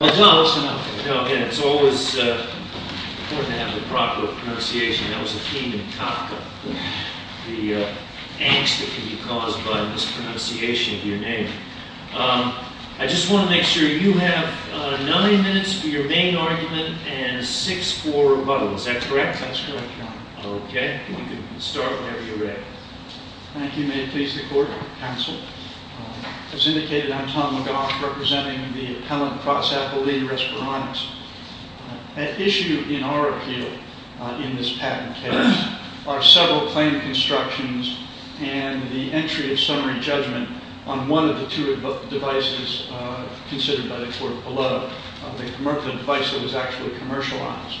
I just want to make sure you have 9 minutes for your main argument and 6 for rebuttal. Is that correct? That's correct, Your Honor. Okay. You can start whenever you're ready. Thank you. May it please the Court. Counsel. As indicated, I'm Tom McGough, representing the appellant, Prossack, the lead in Respironics. At issue in our appeal in this patent case are several claim constructions and the entry of summary judgment on one of the two devices considered by the court below, the commercial device that was actually commercialized.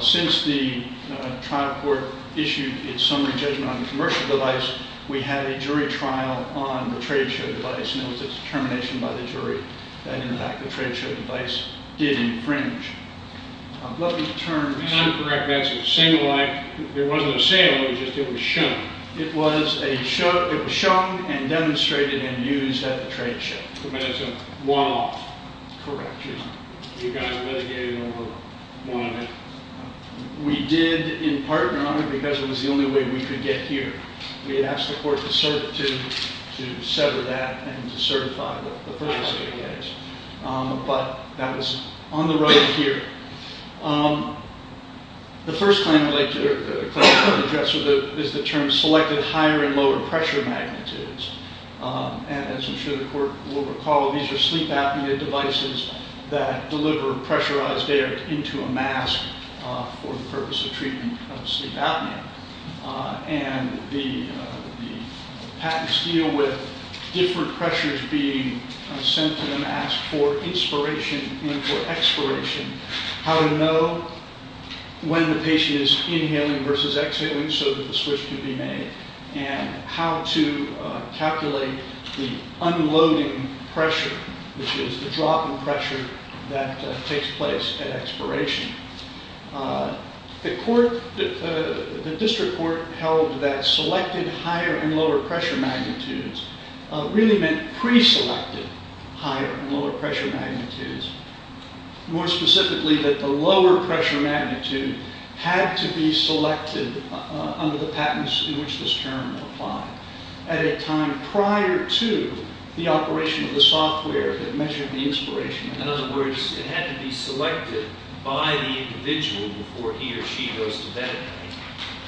Since the trial court issued its summary judgment on the commercial device, we had a jury trial on the trade show device, and it was a determination by the jury that, in fact, the trade show device did infringe. Let me turn... And I'm correct. That's a single line. There wasn't a sale. It was just that it was shown. It was shown and demonstrated and used at the trade show. But it's a one-off. Correct, Your Honor. You guys mitigated over one of it. We did, in part, Your Honor, because it was the only way we could get here. We asked the court to sever that and to certify the purpose of the case. But that is on the right here. The first claim I'd like to address is the term selected higher and lower pressure magnitudes. And as I'm sure the court will recall, these are sleep apnea devices that deliver pressurized air into a mask for the purpose of treatment of sleep apnea. And the patents deal with different pressures being sent to the mask for inspiration and for expiration, how to know when the patient is inhaling versus exhaling so that the switch can be made, and how to calculate the unloading pressure, which is the drop in pressure that takes place at expiration. The district court held that selected higher and lower pressure magnitudes really meant pre-selected higher and lower pressure magnitudes. More specifically, that the lower pressure magnitude had to be selected under the patents in which this term applied at a time prior to the operation of the software that measured the inspiration. In other words, it had to be selected by the individual before he or she goes to bed at night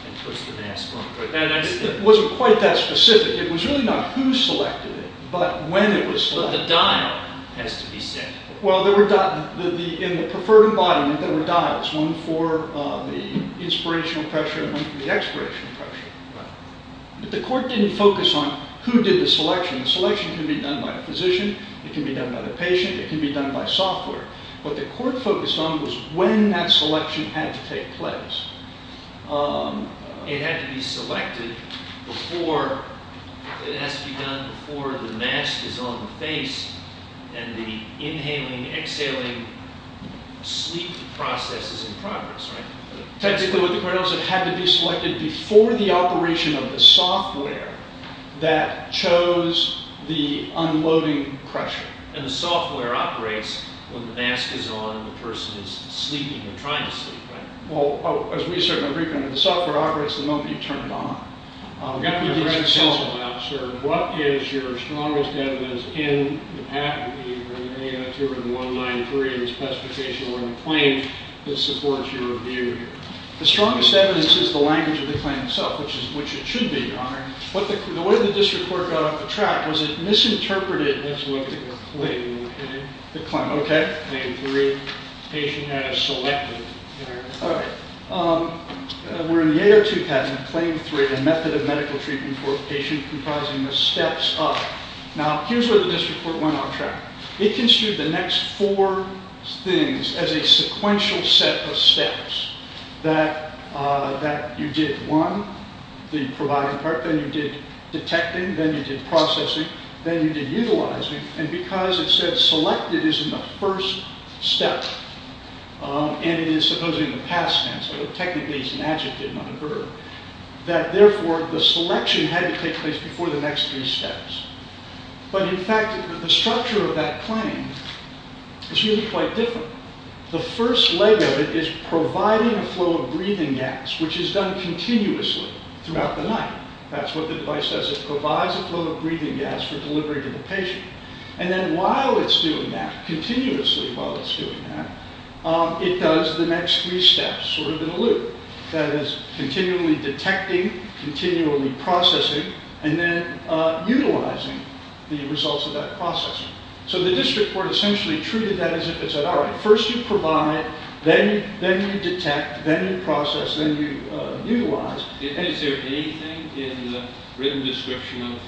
and puts the mask on. It wasn't quite that specific. It was really not who selected it, but when it was selected. The dial has to be set. Well, in the preferred embodiment, there were dials, one for the inspirational pressure and one for the expiration pressure. But the court didn't focus on who did the selection. The selection can be done by a physician. It can be done by the patient. It can be done by software. What the court focused on was when that selection had to take place. It had to be selected before, it has to be done before the mask is on the face and the inhaling, exhaling sleep process is in progress, right? Technically, what the court held is it had to be selected before the operation of the software that chose the unloading pressure. And the software operates when the mask is on and the person is sleeping or trying to sleep, right? Well, as we said in the briefing, the software operates the moment you turn it on. I've got a question about, sir, what is your strongest evidence in the patent here in 1-9-3 in the specification or in the claim that supports your view here? The strongest evidence is the language of the claim itself, which it should be, Your Honor. The way the district court got off the track was it misinterpreted the claim. The claim, okay. Claim three, patient had to select it. All right. We're in the 802 patent, claim three, the method of medical treatment for a patient comprising the steps of. Now, here's where the district court went off track. It construed the next four things as a sequential set of steps that you did one, the providing part. Then you did detecting. Then you did processing. Then you did utilizing. And because it said selected is in the first step, and it is supposedly in the past tense, technically it's an adjective, not a verb, that therefore the selection had to take place before the next three steps. But in fact, the structure of that claim is really quite different. The first leg of it is providing a flow of breathing gas, which is done continuously throughout the night. That's what the device does. It provides a flow of breathing gas for delivery to the patient. And then while it's doing that, continuously while it's doing that, it does the next three steps sort of in a loop. That is, continually detecting, continually processing, and then utilizing the results of that processing. So the district court essentially treated that as if it said, all right, first you provide, then you detect, then you process, then you utilize. Is there anything in the written description of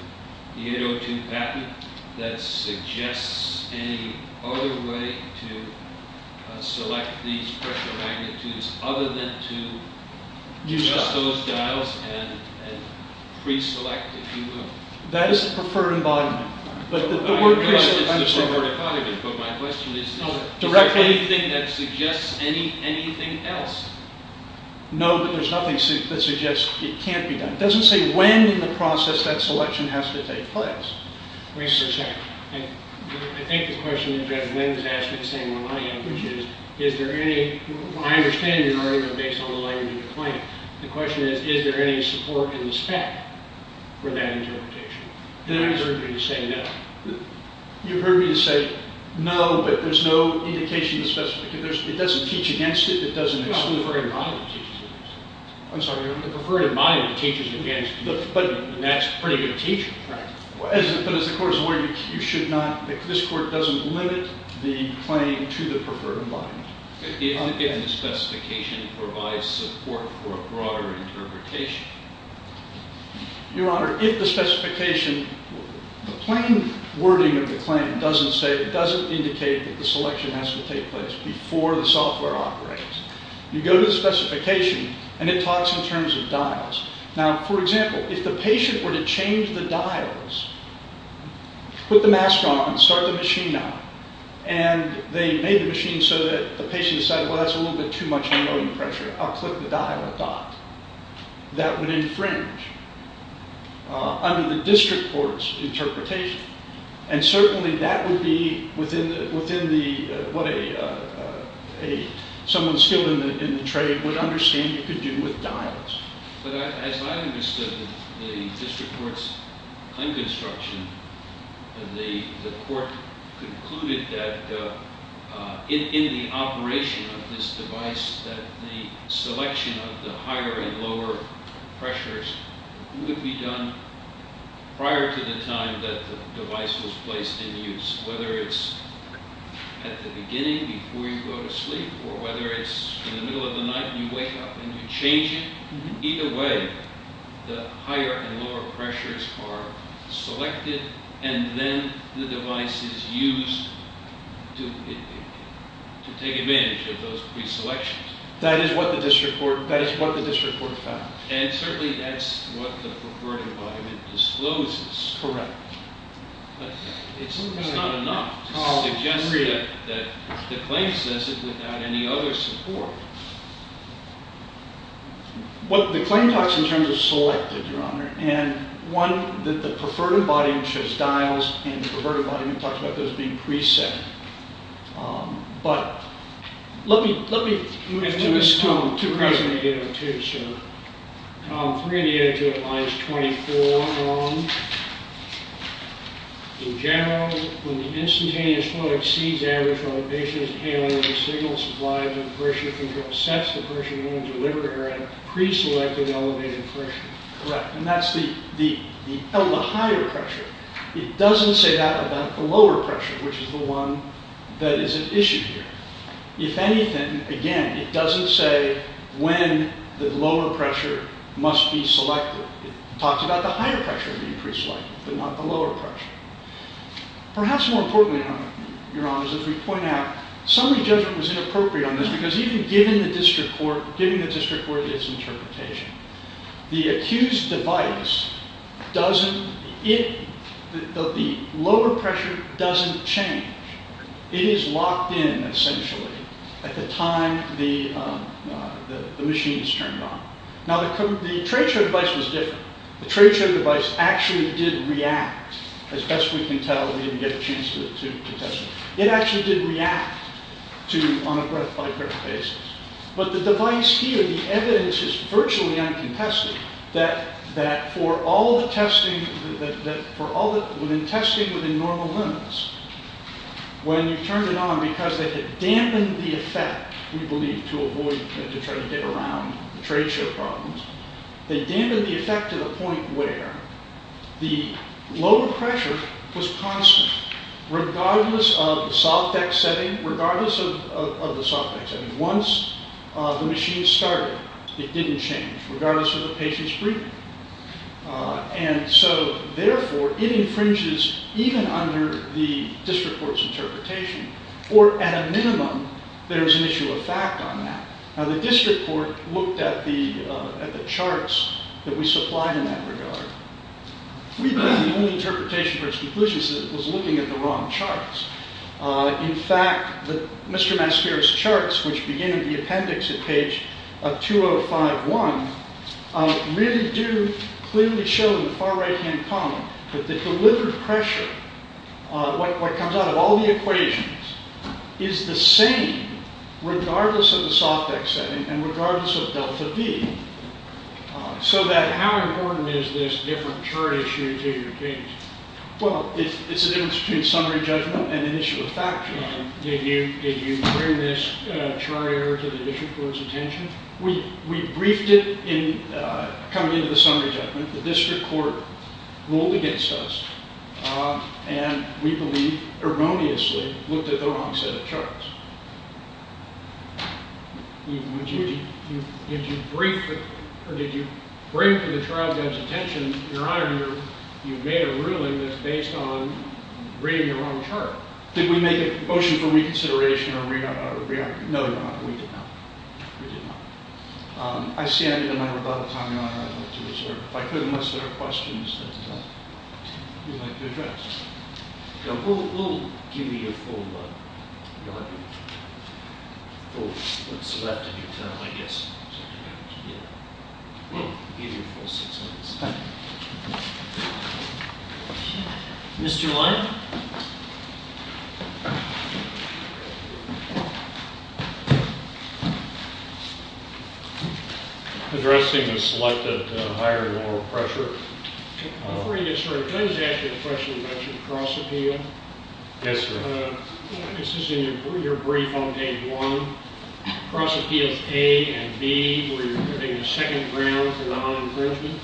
the 802 patent that suggests any other way to select these pressure magnitudes other than to adjust those dials and pre-select, if you will? That is the preferred embodiment. I realize this is the preferred embodiment, but my question is, is there anything that suggests anything else? No, but there's nothing that suggests it can't be done. It doesn't say when in the process that selection has to take place. Wait just a second. I think the question that Judge Lynn was asking the same way I am, which is, is there any, I understand your argument based on the language of the claim. The question is, is there any support in the spec for that interpretation? Then I deserve you to say no. You've heard me say no, but there's no indication to specify. It doesn't teach against it. It doesn't exclude the preferred embodiment. I'm sorry. The preferred embodiment teaches against it. But that's pretty good teaching. But as the court is aware, you should not, this court doesn't limit the claim to the preferred embodiment. If the specification provides support for a broader interpretation. Your Honor, if the specification, the plain wording of the claim doesn't say, doesn't indicate that the selection has to take place before the software operates. You go to the specification, and it talks in terms of dials. Now, for example, if the patient were to change the dials, put the mask on, start the machine on, and they made the machine so that the patient decided, well, that's a little bit too much annoying pressure. I'll click the dial, a dot. That would infringe under the district court's interpretation. And certainly that would be within the, what a, someone skilled in the trade would understand you could do with dials. But as I understood the district court's claim construction, the court concluded that in the operation of this device, that the selection of the higher and lower pressures would be done prior to the time that the device was placed in use, whether it's at the beginning before you go to sleep, or whether it's in the middle of the night and you wake up and you change it. Either way, the higher and lower pressures are selected, and then the device is used to take advantage of those preselections. That is what the district court found. And certainly that's what the preferred embodiment discloses. Correct. But it's not enough to suggest that the claim says it without any other support. And one, that the preferred embodiment shows dials, and the preferred embodiment talks about those being preset. But let me move to this tome. Tome 3802, sir. Tome 3802 at lines 24 and on. In general, when the instantaneous flow exceeds average elevations and hailing of the signal supplies and pressure control sets, the person will deliver at a preselected elevated pressure. Correct. And that's the higher pressure. It doesn't say that about the lower pressure, which is the one that is at issue here. If anything, again, it doesn't say when the lower pressure must be selected. It talks about the higher pressure being preselected, but not the lower pressure. Perhaps more importantly, Your Honors, as we point out, summary judgment was inappropriate on this, because even given the district court's interpretation, the accused device doesn't, the lower pressure doesn't change. It is locked in, essentially, at the time the machine is turned on. Now, the trade show device was different. The trade show device actually did react, as best we can tell. We didn't get a chance to test it. It actually did react on a breath-by-breath basis. But the device here, the evidence is virtually uncontested, that for all the testing within normal limits, when you turned it on, because they had dampened the effect, we believe, to avoid, to try to get around the trade show problems, they dampened the effect to the point where the lower pressure was constant, regardless of the soft X setting, regardless of the soft X setting. Once the machine started, it didn't change, regardless of the patient's breathing. And so, therefore, it infringes even under the district court's interpretation, or at a minimum, there's an issue of fact on that. Now, the district court looked at the charts that we supplied in that regard. We believe the only interpretation for its conclusion was that it was looking at the wrong charts. In fact, Mr. Mascara's charts, which begin in the appendix at page 2051, really do clearly show in the far right-hand column that the delivered pressure, what comes out of all the equations, is the same regardless of the soft X setting and regardless of delta V. So that how important is this different chart issue to your case? Well, it's the difference between summary judgment and an issue of fact. Did you bring this chart error to the district court's attention? We briefed it in coming into the summary judgment. The district court ruled against us, and we believe erroneously looked at the wrong set of charts. Did you bring it to the trial judge's attention? Your Honor, you made a ruling that's based on reading the wrong chart. Did we make a motion for reconsideration or re-argument? No, Your Honor, we did not. I stand in my rebuttal. Your Honor, I'd like to reserve, if I could, unless there are questions that you'd like to address. We'll give you your full re-argument. We'll select a new term, I guess. We'll give you your full six months. Thank you. Mr. Lyon? Addressing the selected higher oral pressure. Before I get started, can I just ask you a question about your cross-appeal? Yes, sir. This is in your brief on page 1. Cross-appeals A and B, where you're giving the second round for non-imprisonment.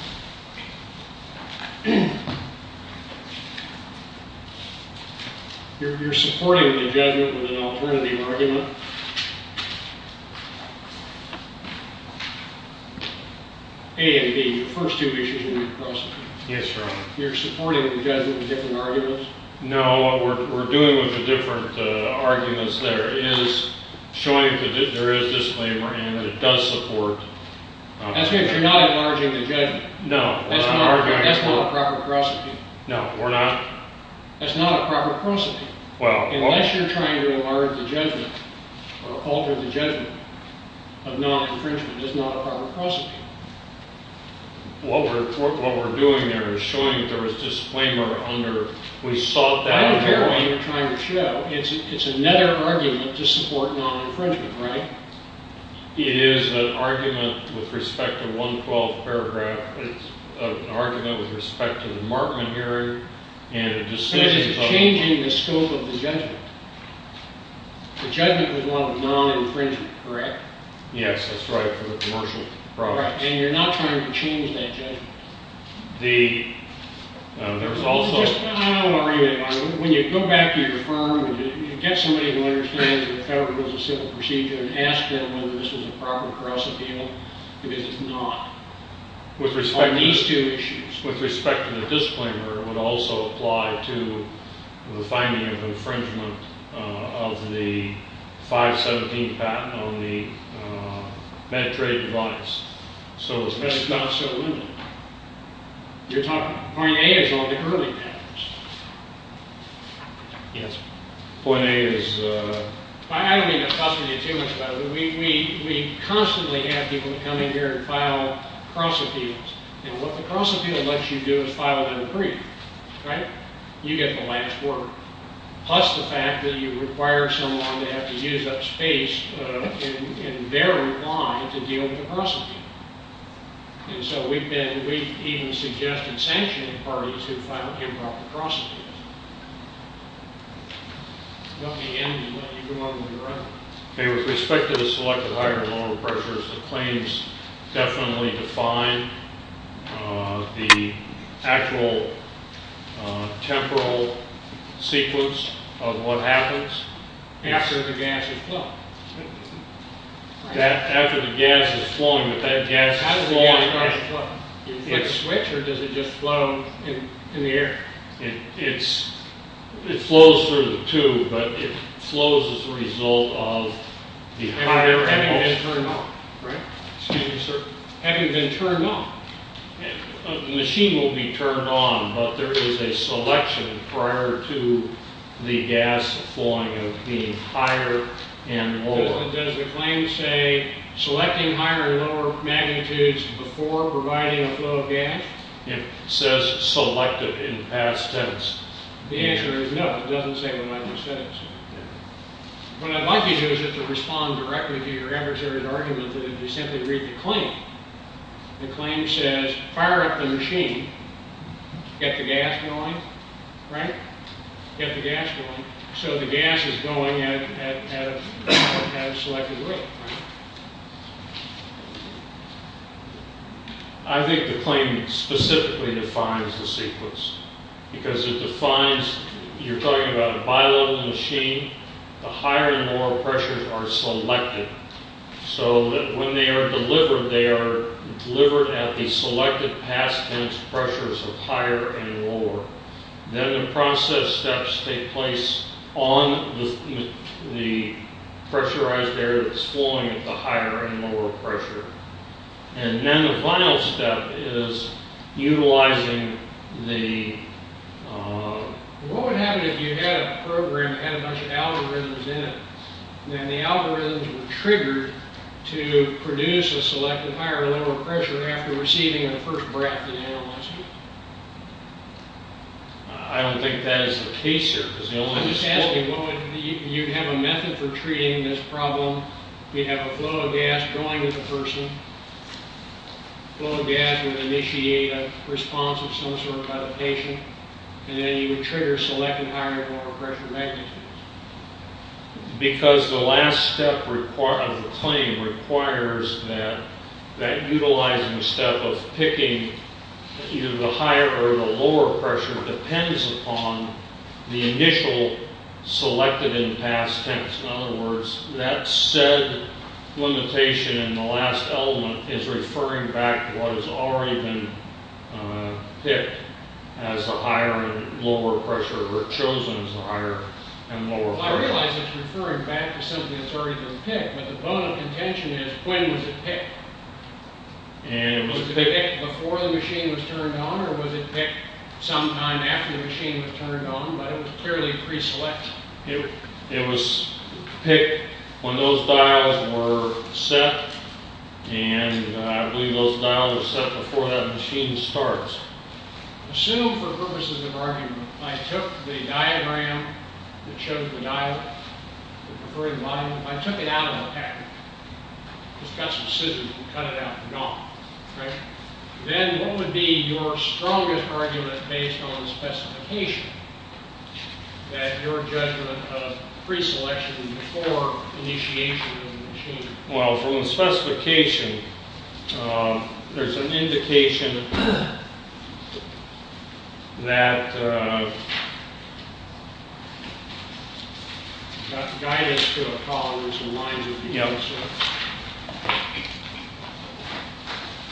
You're supporting the judgment with an alternative argument. A and B, the first two issues in your cross-appeal. Yes, Your Honor. You're supporting the judgment with different arguments? No. What we're doing with the different arguments there is showing that there is disclaimer and it does support. That's because you're not enlarging the judgment. No. That's not a proper cross-appeal. No, we're not. That's not a proper cross-appeal. Unless you're trying to enlarge the judgment or alter the judgment of non-imprisonment, it's not a proper cross-appeal. What we're doing there is showing that there is disclaimer under. I don't care what you're trying to show. It's another argument to support non-infringement, right? It is an argument with respect to 112th paragraph. It's an argument with respect to the Markman hearing and a decision. But is it changing the scope of the judgment? The judgment was one of non-infringement, correct? Yes, that's right, for the commercial products. And you're not trying to change that judgment? There's also— I don't know what you mean by that. When you go back to your firm and you get somebody who understands that the Federal Rules of Civil Procedure and ask them whether this is a proper cross-appeal, because it's not. With respect to— On these two issues. With respect to the disclaimer, it would also apply to the finding of infringement of the 517 patent on the med trade device. So— But it's not so limited. You're talking—point A is on the early patents. Yes, point A is— I don't mean to fuss with you too much about it, but we constantly have people come in here and file cross-appeals. And what the cross-appeal lets you do is file an imprisonment, right? You get the last word. Plus the fact that you require someone to have to use up space in their reply to deal with the cross-appeal. And so we've been—we've even suggested sanctioning parties who file improper cross-appeals. Let me end and let you go on when you're ready. Okay. With respect to the selected higher and lower pressures, the claims definitely define the actual temporal sequence of what happens. After the gas is flowing. After the gas is flowing, but that gas is flowing— How does the gas flow? Does it switch or does it just flow in the air? It flows through the tube, but it flows as a result of the higher— Having been turned on, right? Excuse me, sir. Having been turned on. A machine will be turned on, but there is a selection prior to the gas flowing of being higher and lower. Does the claim say selecting higher and lower magnitudes before providing a flow of gas? It says selected in past tense. The answer is no, it doesn't say what it says. What I'd like you to do is to respond directly to your adversary's argument that if you simply read the claim, the claim says, fire up the machine, get the gas going, right? Get the gas going. So the gas is going at a selected rate, right? I think the claim specifically defines the sequence because it defines— The higher and lower pressures are selected. So when they are delivered, they are delivered at the selected past tense pressures of higher and lower. Then the process steps take place on the pressurized air that's flowing at the higher and lower pressure. And then the final step is utilizing the— There's a bunch of algorithms in it. And the algorithms were triggered to produce a selected higher and lower pressure after receiving the first breath of the analyst. I don't think that is the case here. I'm just asking, you'd have a method for treating this problem. You'd have a flow of gas going to the person. Flow of gas would initiate a response of some sort by the patient. And then you would trigger selected higher and lower pressure magnitudes. Because the last step of the claim requires that utilizing step of picking either the higher or the lower pressure depends upon the initial selected and past tense. In other words, that said limitation in the last element is referring back to what has already been picked as the higher and lower pressure, or chosen as the higher and lower pressure. Well, I realize it's referring back to something that's already been picked. But the point of contention is, when was it picked? Was it picked before the machine was turned on? Or was it picked sometime after the machine was turned on? But it was clearly preselected. It was picked when those dials were set. And I believe those dials were set before that machine starts. Assume for purposes of argument, I took the diagram that shows the dial, the preferred volume. I took it out of the packet. Just got some scissors and cut it out and gone. Then what would be your strongest argument based on the specification, that your judgment of preselection before initiation of the machine? Well, from the specification, there's an indication that guidance to a column is in line with the other source.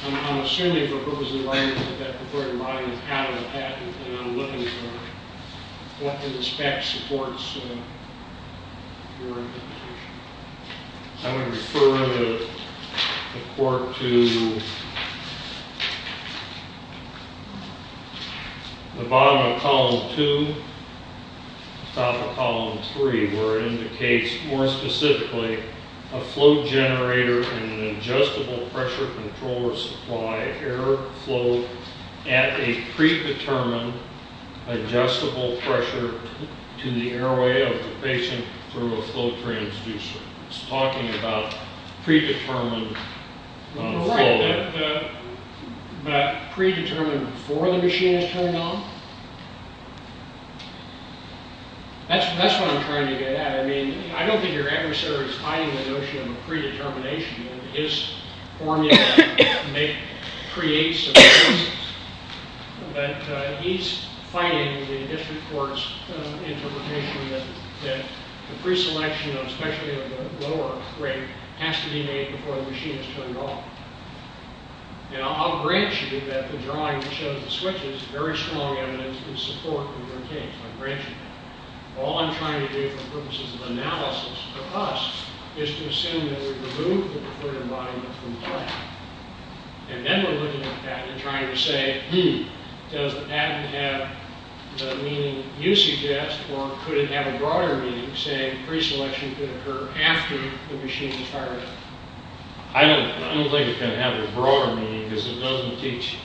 I'm assuming for purposes of argument that that preferred volume is out of the packet, and I'm looking for what in respect supports your interpretation. I'm going to refer the report to the bottom of column 2, top of column 3, where it indicates more specifically a flow generator and an adjustable pressure controller supply air flow at a predetermined adjustable pressure to the airway of the basin through a flow transducer. It's talking about predetermined flow. But predetermined before the machine is turned on? That's what I'm trying to get at. I mean, I don't think your adversary is hiding the notion of predetermination. His formula creates a basis. But he's fighting the district court's interpretation that the preselection, especially of the lower rate, has to be made before the machine is turned off. And I'll grant you that the drawing that shows the switches is very strong evidence in support of your case. I'll grant you that. All I'm trying to do for purposes of analysis for us is to assume that we've removed the preferred environment from the packet. And then we're looking at the patent and trying to say, does the patent have the meaning you suggest, or could it have a broader meaning saying preselection could occur after the machine is turned on? I don't think it can have a broader meaning because it doesn't teach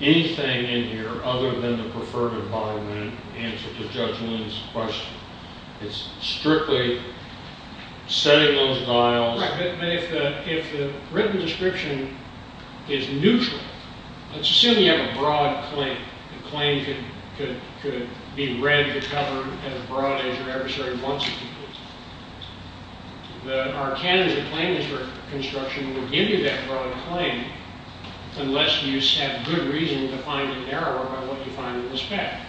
anything in here other than the preferred environment answer to Judge Lin's question. It's strictly setting those dials. Right. But if the written description is neutral, let's assume you have a broad claim. The claim could be read, be covered, as broad as your adversary wants it to be. But our canon of claim construction would give you that broad claim unless you have good reason to find an error about what you find in the spec.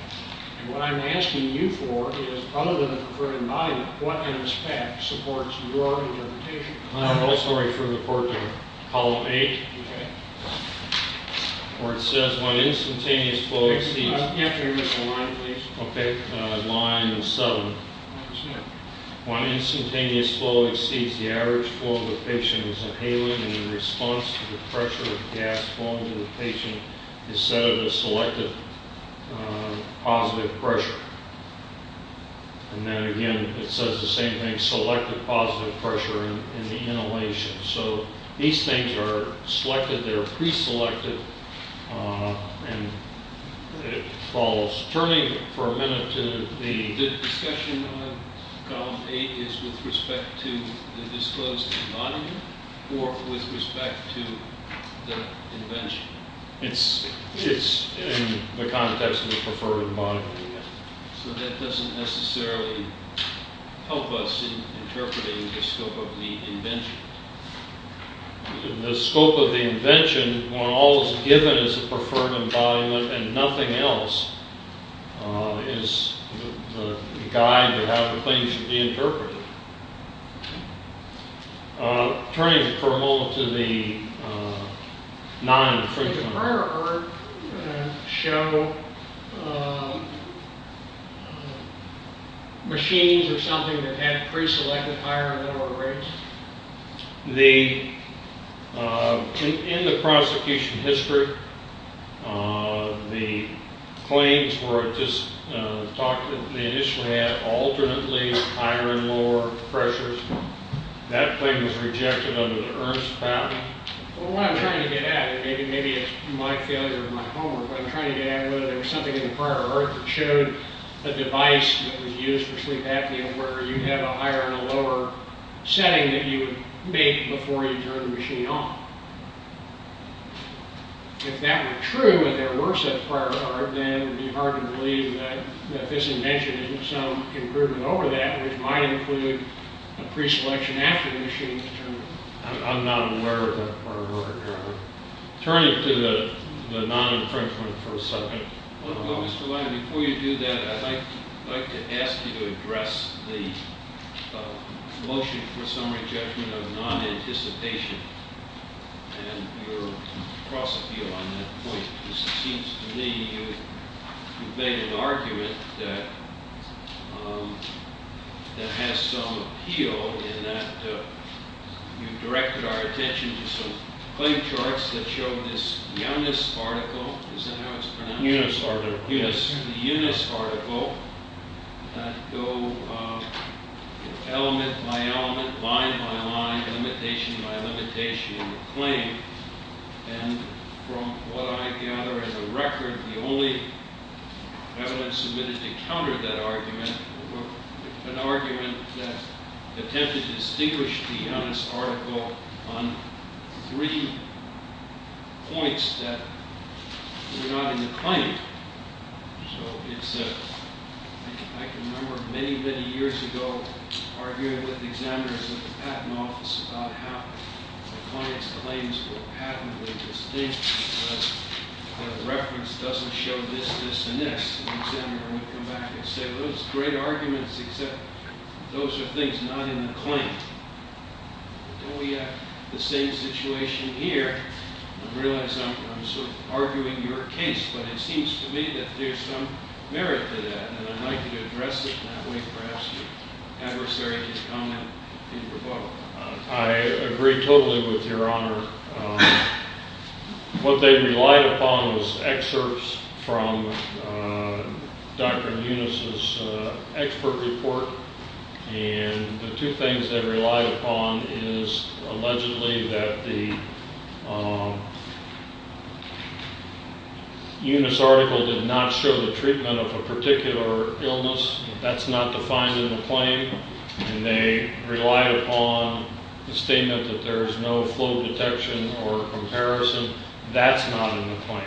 And what I'm asking you for is, other than the preferred environment, what in the spec supports your interpretation? I have a whole story for the court there. Column 8. Okay. Where it says, when instantaneous flow exceeds- After you read the line, please. Okay. Line 7. What does it say? When instantaneous flow exceeds the average flow, the patient is inhaling, and in response to the pressure of the gas flowing to the patient, is set at a selected positive pressure. And then, again, it says the same thing, selected positive pressure in the inhalation. So these things are selected. They're preselected. And it follows. Turning for a minute to the- The discussion on column 8 is with respect to the disclosed environment or with respect to the invention? It's in the context of the preferred environment. So that doesn't necessarily help us in interpreting the scope of the invention? The scope of the invention, when all is given is the preferred environment and nothing else is the guide to how things should be interpreted. Turning for a moment to the non-infringement- show machines or something that had preselected higher and lower rates? In the prosecution history, the claims were just- they initially had alternately higher and lower pressures. That claim was rejected under the Ernst patent. What I'm trying to get at, and maybe it's my failure of my homework, but I'm trying to get at whether there was something in the prior art that showed a device that was used for sleep apnea where you have a higher and a lower setting that you would make before you turn the machine on. If that were true and there were such prior art, then it would be hard to believe that this invention isn't some improvement over that, which might include a preselection after the machine was turned on. I'm not aware of that prior art. Turning to the non-infringement for a second. Before you do that, I'd like to ask you to address the motion for summary judgment of non-anticipation and your cross-appeal on that point. It seems to me you've made an argument that has some appeal in that you've directed our attention to some claim charts that show this Yunus article. Is that how it's pronounced? Yunus article. The Yunus article that go element by element, line by line, limitation by limitation in the claim. And from what I gather as a record, the only evidence submitted to counter that argument was an argument that attempted to distinguish the Yunus article on three points that were not in the claim. So I can remember many, many years ago arguing with examiners at the patent office about how the client's claims were patently distinct because the reference doesn't show this, this, and this. And the examiner would come back and say, those are great arguments, except those are things not in the claim. Don't we have the same situation here? I realize I'm sort of arguing your case, but it seems to me that there's some merit to that, and I'd like you to address it that way. Perhaps your adversary can comment in rebuttal. I agree totally with Your Honor. What they relied upon was excerpts from Dr. Yunus's expert report, and the two things they relied upon is allegedly that the Yunus article did not show the treatment of a particular illness. That's not defined in the claim. And they relied upon the statement that there is no flow detection or comparison. That's not in the claim.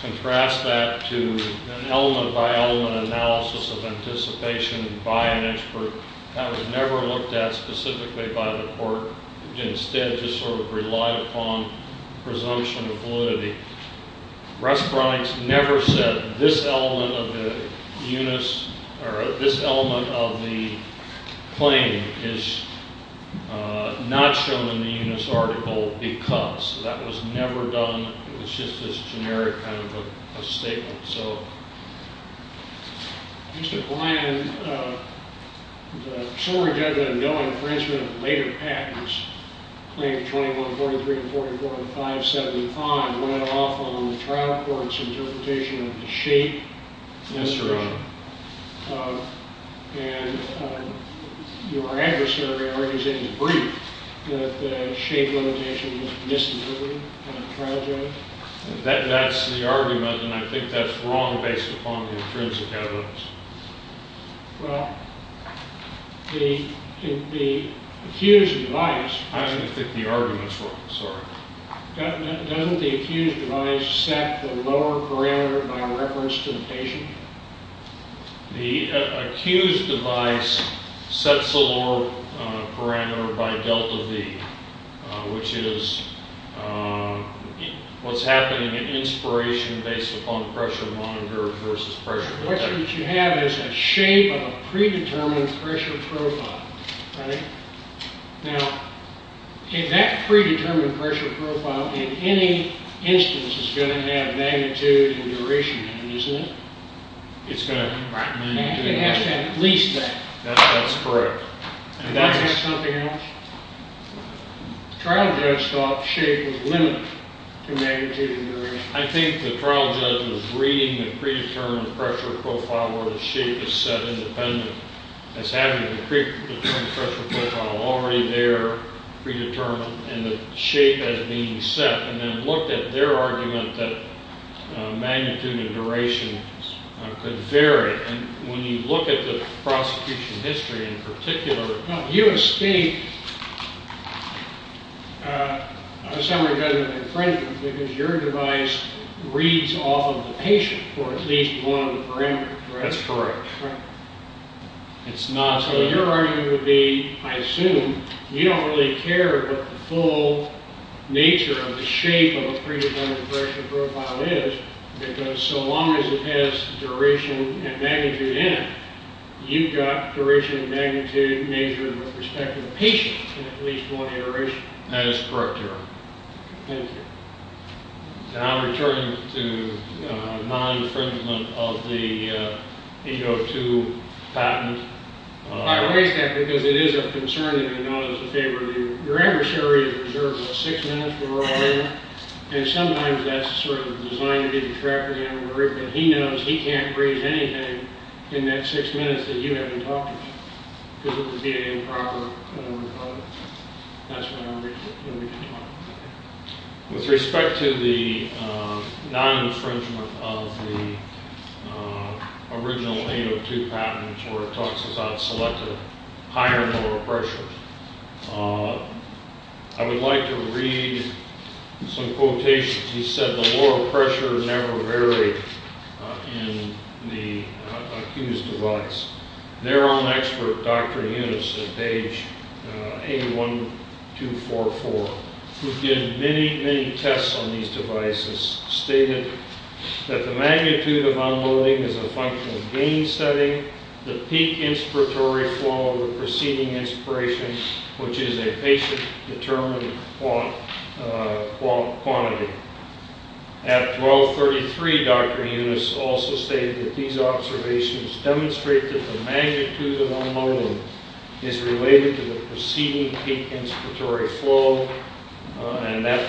Contrast that to an element-by-element analysis of anticipation by an expert that was never looked at specifically by the court, instead just sort of relied upon presumption of validity. Respironics never said this element of the Yunus, or this element of the claim is not shown in the Yunus article because. That was never done. It was just this generic kind of a statement. Mr. Bland, the short judgment going, for instance, Claim 21-43 and 44-575 went off on the trial court's interpretation of the shape. Yes, Your Honor. And your adversary argues in the brief that the shape limitation was misinterpreted by the trial judge. That's the argument, and I think that's wrong based upon the intrinsic evidence. Well, the accused device. I think the argument's wrong, sorry. Doesn't the accused device set the lower parameter by reference to the patient? The accused device sets the lower parameter by delta V, which is what's happening in inspiration based upon pressure monitor versus pressure detector. So what you have is a shape of a predetermined pressure profile, right? Now, if that predetermined pressure profile in any instance is going to have magnitude and duration, isn't it? It's going to have magnitude and duration. It has to have at least that. That's correct. And that's just something else? The trial judge thought shape was limited to magnitude and duration. I think the trial judge was reading the predetermined pressure profile where the shape is set independently. That's happening in the predetermined pressure profile, already there, predetermined, and the shape has been set, and then looked at their argument that magnitude and duration could vary. And when you look at the prosecution history in particular, you escape a summary judgment infringement because your device reads off of the patient for at least one of the parameters, correct? That's correct. So your argument would be, I assume, you don't really care what the full nature of the shape of a predetermined pressure profile is because so long as it has duration and magnitude in it, you've got duration and magnitude measured with respect to the patient in at least one iteration. That is correct, Your Honor. Thank you. And I'll return to non-infringement of the 802 patent. I raise that because it is a concern and I know it's in favor of you. Your adversary is reserved about six minutes for a roll-in, and sometimes that's sort of designed to be a trapping algorithm. But he knows he can't read anything in that six minutes that you haven't talked to him, because it would be improper and unrecoverable. With respect to the non-infringement of the original 802 patent, where it talks about selective higher moral pressure, I would like to read some quotations. He said the moral pressure never varied in the accused device. Their own expert, Dr. Eunice, at page 81244, who did many, many tests on these devices, stated that the magnitude of unloading is a function of gain setting. The peak inspiratory flow of the preceding inspiration, which is a patient-determined quantity. At 1233, Dr. Eunice also stated that these observations demonstrate that the magnitude of unloading is related to the preceding peak inspiratory flow, and that,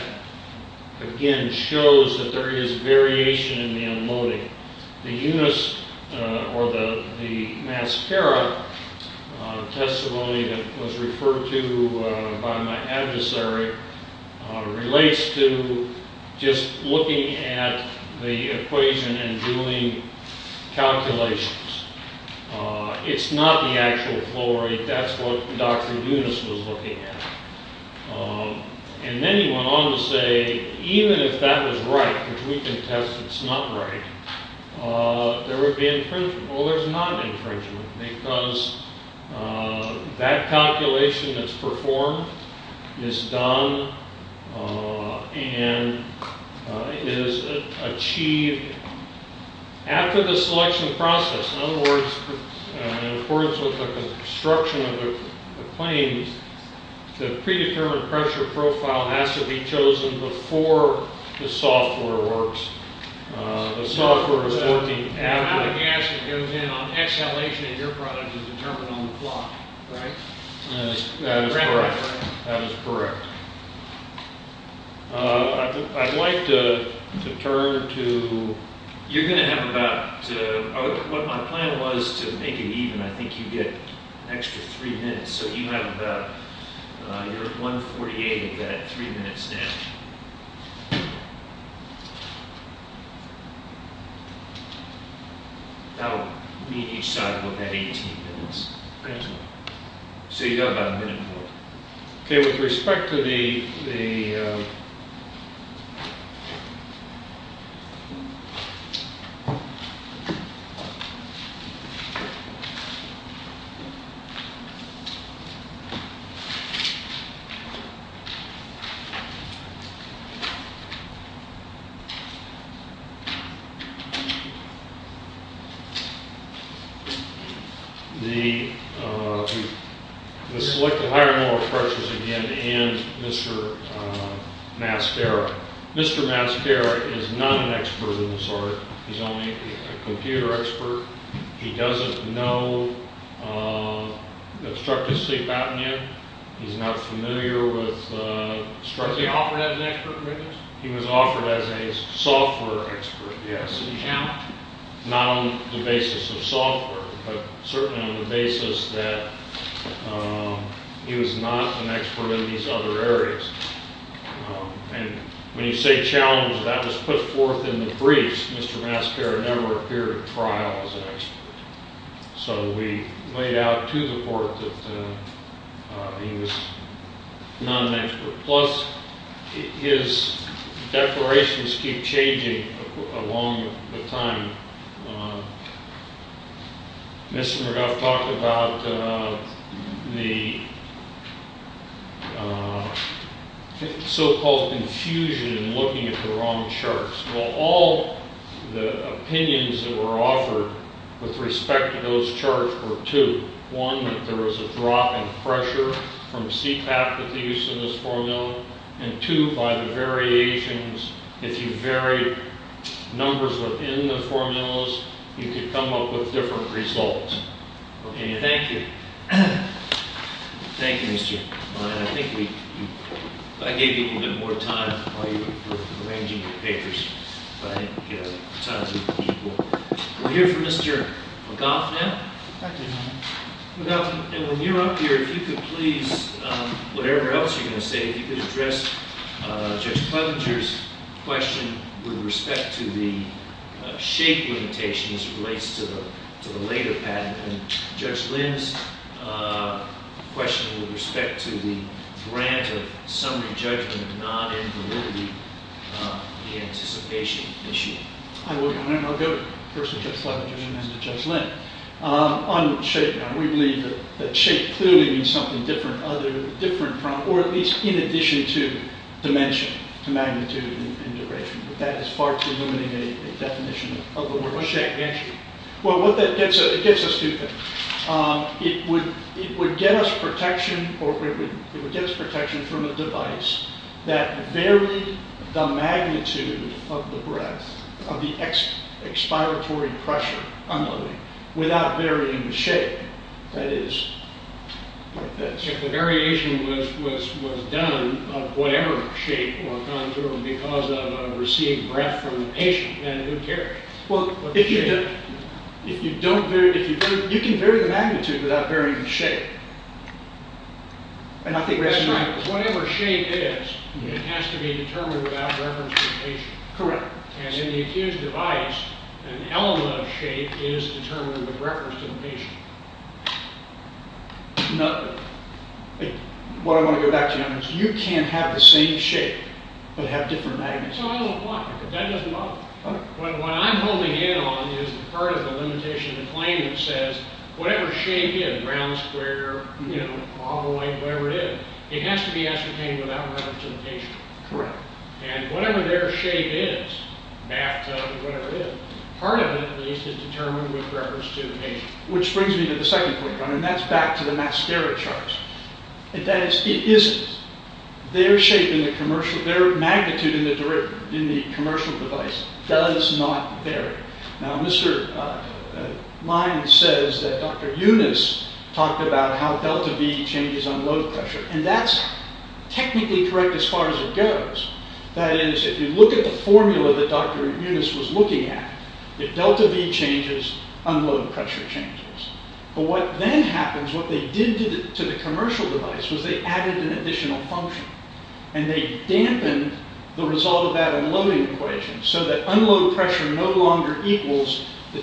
again, shows that there is variation in the unloading. The Eunice, or the Mascara testability that was referred to by my adversary, relates to just looking at the equation and doing calculations. It's not the actual flow rate. That's what Dr. Eunice was looking at. And then he went on to say, even if that was right, because we can test it's not right, there would be infringement. Well, there's not infringement, because that calculation that's performed is done and is achieved after the selection process. In other words, in accordance with the construction of the claims, the predetermined pressure profile has to be chosen before the software works. The software is working... The amount of gas that goes in on exhalation in your product is determined on the plot, right? That is correct. I'd like to turn to... You're going to have about, what my plan was to make it even, I think you get an extra three minutes, so you have about... You're at 1.48 of that three minutes now. That will mean each side will have 18 minutes. Thank you. So you've got about a minute more. Okay, with respect to the... The selected higher moral pressures, again, and Mr. Mascara. Mr. Mascara is not an expert in this art. He's only a computer expert. He doesn't know obstructive sleep apnea. He's not familiar with... Was he offered as an expert in this? He was offered as a software expert, yes. Not on the basis of software, but certainly on the basis that he was not an expert in these other areas. And when you say challenge, that was put forth in the briefs. Mr. Mascara never appeared at trial as an expert. So we laid out to the court that he was not an expert. Plus, his declarations keep changing along the time. Mr. McGuff talked about the so-called confusion in looking at the wrong charts. Well, all the opinions that were offered with respect to those charts were two. One, that there was a drop in pressure from CPAP with the use of this formula. And two, by the variations, if you varied numbers within the formulas, you could come up with different results. Okay, thank you. Thank you, Mr. O'Brien. I think I gave you a little bit more time while you were arranging your papers. But I think time is of the equal. We'll hear from Mr. McGuff now. And when you're up here, if you could please, whatever else you're going to say, if you could address Judge Clevenger's question with respect to the shape limitations as it relates to the later patent. And Judge Lynn's question with respect to the grant of summary judgment of non-invalidity, the anticipation issue. I'll go first with Judge Clevenger and then to Judge Lynn. On the shape, we believe that shape clearly means something different, or at least in addition to dimension, to magnitude and duration. But that is far too limiting a definition of the word. Well, what that gets us to, it would get us protection from a device that varied the magnitude of the breath, of the expiratory pressure, without varying the shape, that is. If the variation was done of whatever shape or contour because of a receiving breath from the patient, then who cared? Well, if you don't vary it, you can vary the magnitude without varying the shape. That's right. Whatever shape is, it has to be determined without reference to the patient. Correct. And in the accused device, an element of shape is determined with reference to the patient. What I want to go back to, you can't have the same shape but have different magnitudes. That doesn't bother me. What I'm holding in on is part of the limitation of the claim that says whatever shape is, round, square, oblong, whatever it is, it has to be ascertained without reference to the patient. Correct. And whatever their shape is, bathtub, whatever it is, part of it at least is determined with reference to the patient. Which brings me to the second point, and that's back to the masteric charts. And that is, it isn't. Their shape in the commercial, their magnitude in the commercial device does not vary. Now, Mr. Lyons says that Dr. Yunus talked about how delta V changes on load pressure. And that's technically correct as far as it goes. That is, if you look at the formula that Dr. Yunus was looking at, if delta V changes, unload pressure changes. But what then happens, what they did to the commercial device, was they added an additional function. And they dampened the result of that unloading equation so that unload pressure no longer equals the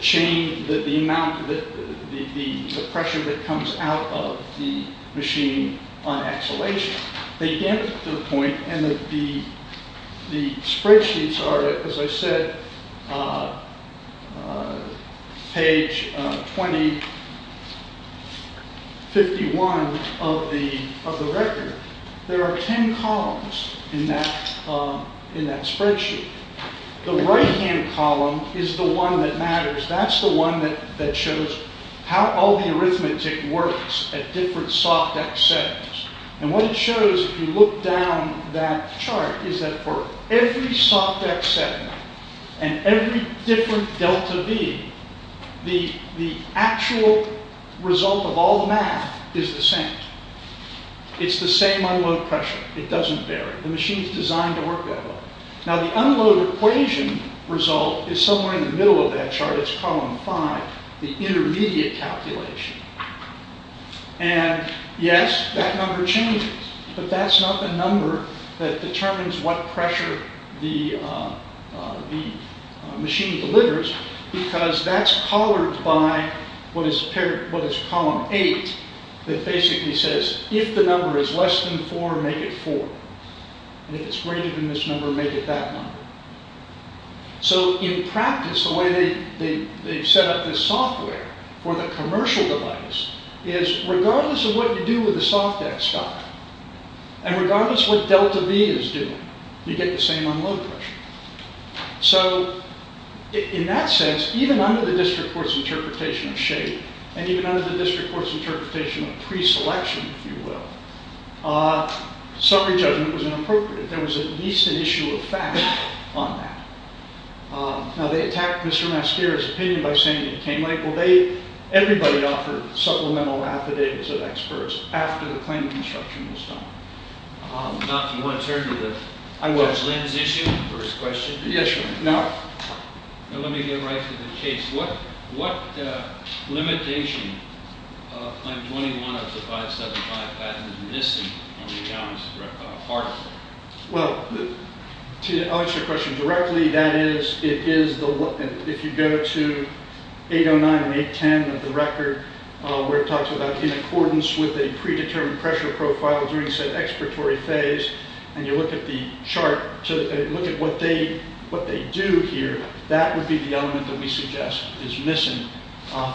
pressure that comes out of the machine on exhalation. They dampened it to the point, and the spreadsheets are, as I said, page 2051 of the record. There are ten columns in that spreadsheet. The right-hand column is the one that matters. That's the one that shows how all the arithmetic works at different soft X settings. And what it shows, if you look down that chart, is that for every soft X setting and every different delta V, the actual result of all the math is the same. It's the same unload pressure. It doesn't vary. The machine is designed to work that way. Now, the unload equation result is somewhere in the middle of that chart. It's column 5, the intermediate calculation. And, yes, that number changes. But that's not the number that determines what pressure the machine delivers, because that's collared by what is column 8, that basically says, if the number is less than 4, make it 4. And if it's greater than this number, make it that number. So, in practice, the way they've set up this software for the commercial device is, regardless of what you do with the soft X guy, and regardless of what delta V is doing, you get the same unload pressure. So, in that sense, even under the district court's interpretation of shape, and even under the district court's interpretation of preselection, if you will, summary judgment was inappropriate. There was at least an issue of fact on that. Now, they attacked Mr. Mascara's opinion by saying that it came late. Well, everybody offered supplemental affidavits of experts after the claim of construction was done. Now, if you want to turn to the... I will. ...Lenz issue, first question. Yes, sir. Now... Now, let me get right to the case. What limitation on 21 of the 575 patent is missing on the analysis part? Well, to answer your question directly, that is, it is the... If you go to 809 and 810 of the record, where it talks about in accordance with a predetermined pressure profile during said expiratory phase, and you look at the chart to look at what they do here, that would be the element that we suggest is missing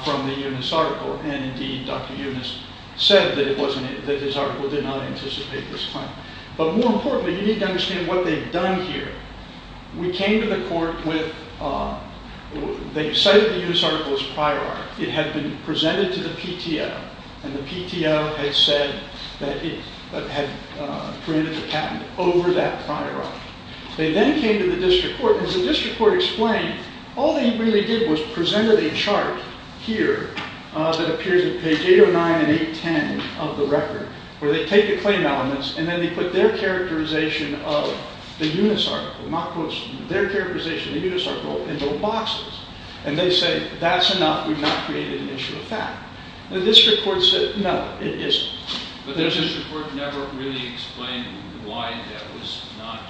from the Eunice article. And indeed, Dr. Eunice said that his article did not anticipate this claim. But more importantly, you need to understand what they've done here. We came to the court with... They cited the Eunice article as a prior article. It had been presented to the PTO, and the PTO had said that it had granted the patent over that prior article. They then came to the district court. As the district court explained, all they really did was presented a chart here that appears in page 809 and 810 of the record, where they take the claim elements, and then they put their characterization of the Eunice article, their characterization of the Eunice article, in little boxes. And they say, that's enough. We've not created an issue of fact. The district court said, no, it isn't. But the district court never really explained why that was not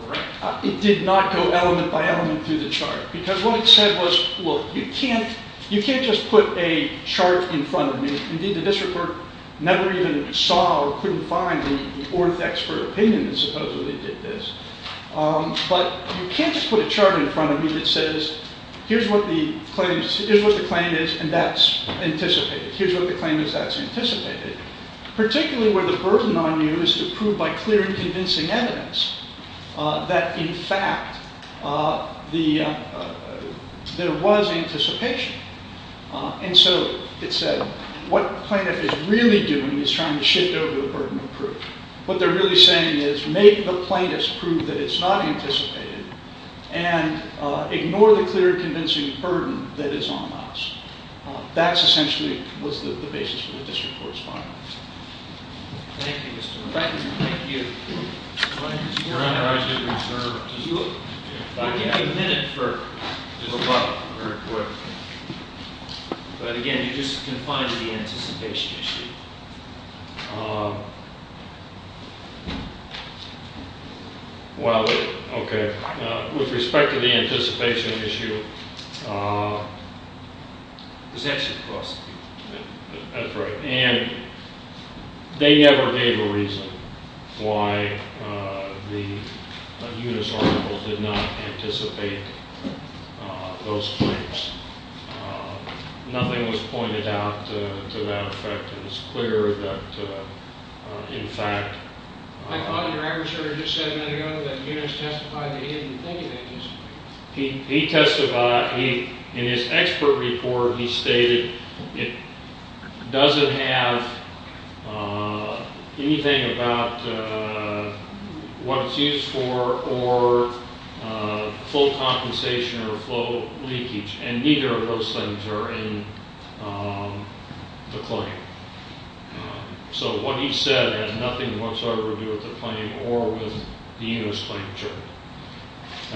correct. It did not go element by element through the chart. Because what it said was, look, you can't just put a chart in front of me. Indeed, the district court never even saw or couldn't find the orth expert opinion that supposedly did this. But you can't just put a chart in front of me that says, here's what the claim is, and that's anticipated. Particularly where the burden on you is to prove by clear and convincing evidence that, in fact, there was anticipation. And so it said, what plaintiff is really doing is trying to shift over the burden of proof. What they're really saying is, make the plaintiffs prove that it's not anticipated, and ignore the clear and convincing burden that is on us. That, essentially, was the basis for the district court's findings. Thank you, Mr. McBride. Thank you. Mr. McBride, I did reserve a minute for the rebuttal very quickly. But again, you just confided the anticipation issue. Well, okay. With respect to the anticipation issue, that's right. And they never gave a reason why the Unis article did not anticipate those claims. Nothing was pointed out to that effect. It was clear that, in fact— I thought your adversary just said a minute ago that Unis testified that he didn't think it anticipated. He testified. In his expert report, he stated it doesn't have anything about what it's used for or full compensation or full leakage. And neither of those things are in the claim. So what he said has nothing whatsoever to do with the claim or with the Unis claim. Thank you.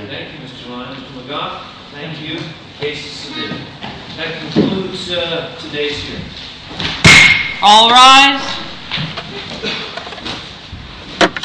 Thank you, Mr. Lyons. Mr. McGough, thank you. Case is submitted. That concludes today's hearing. All rise.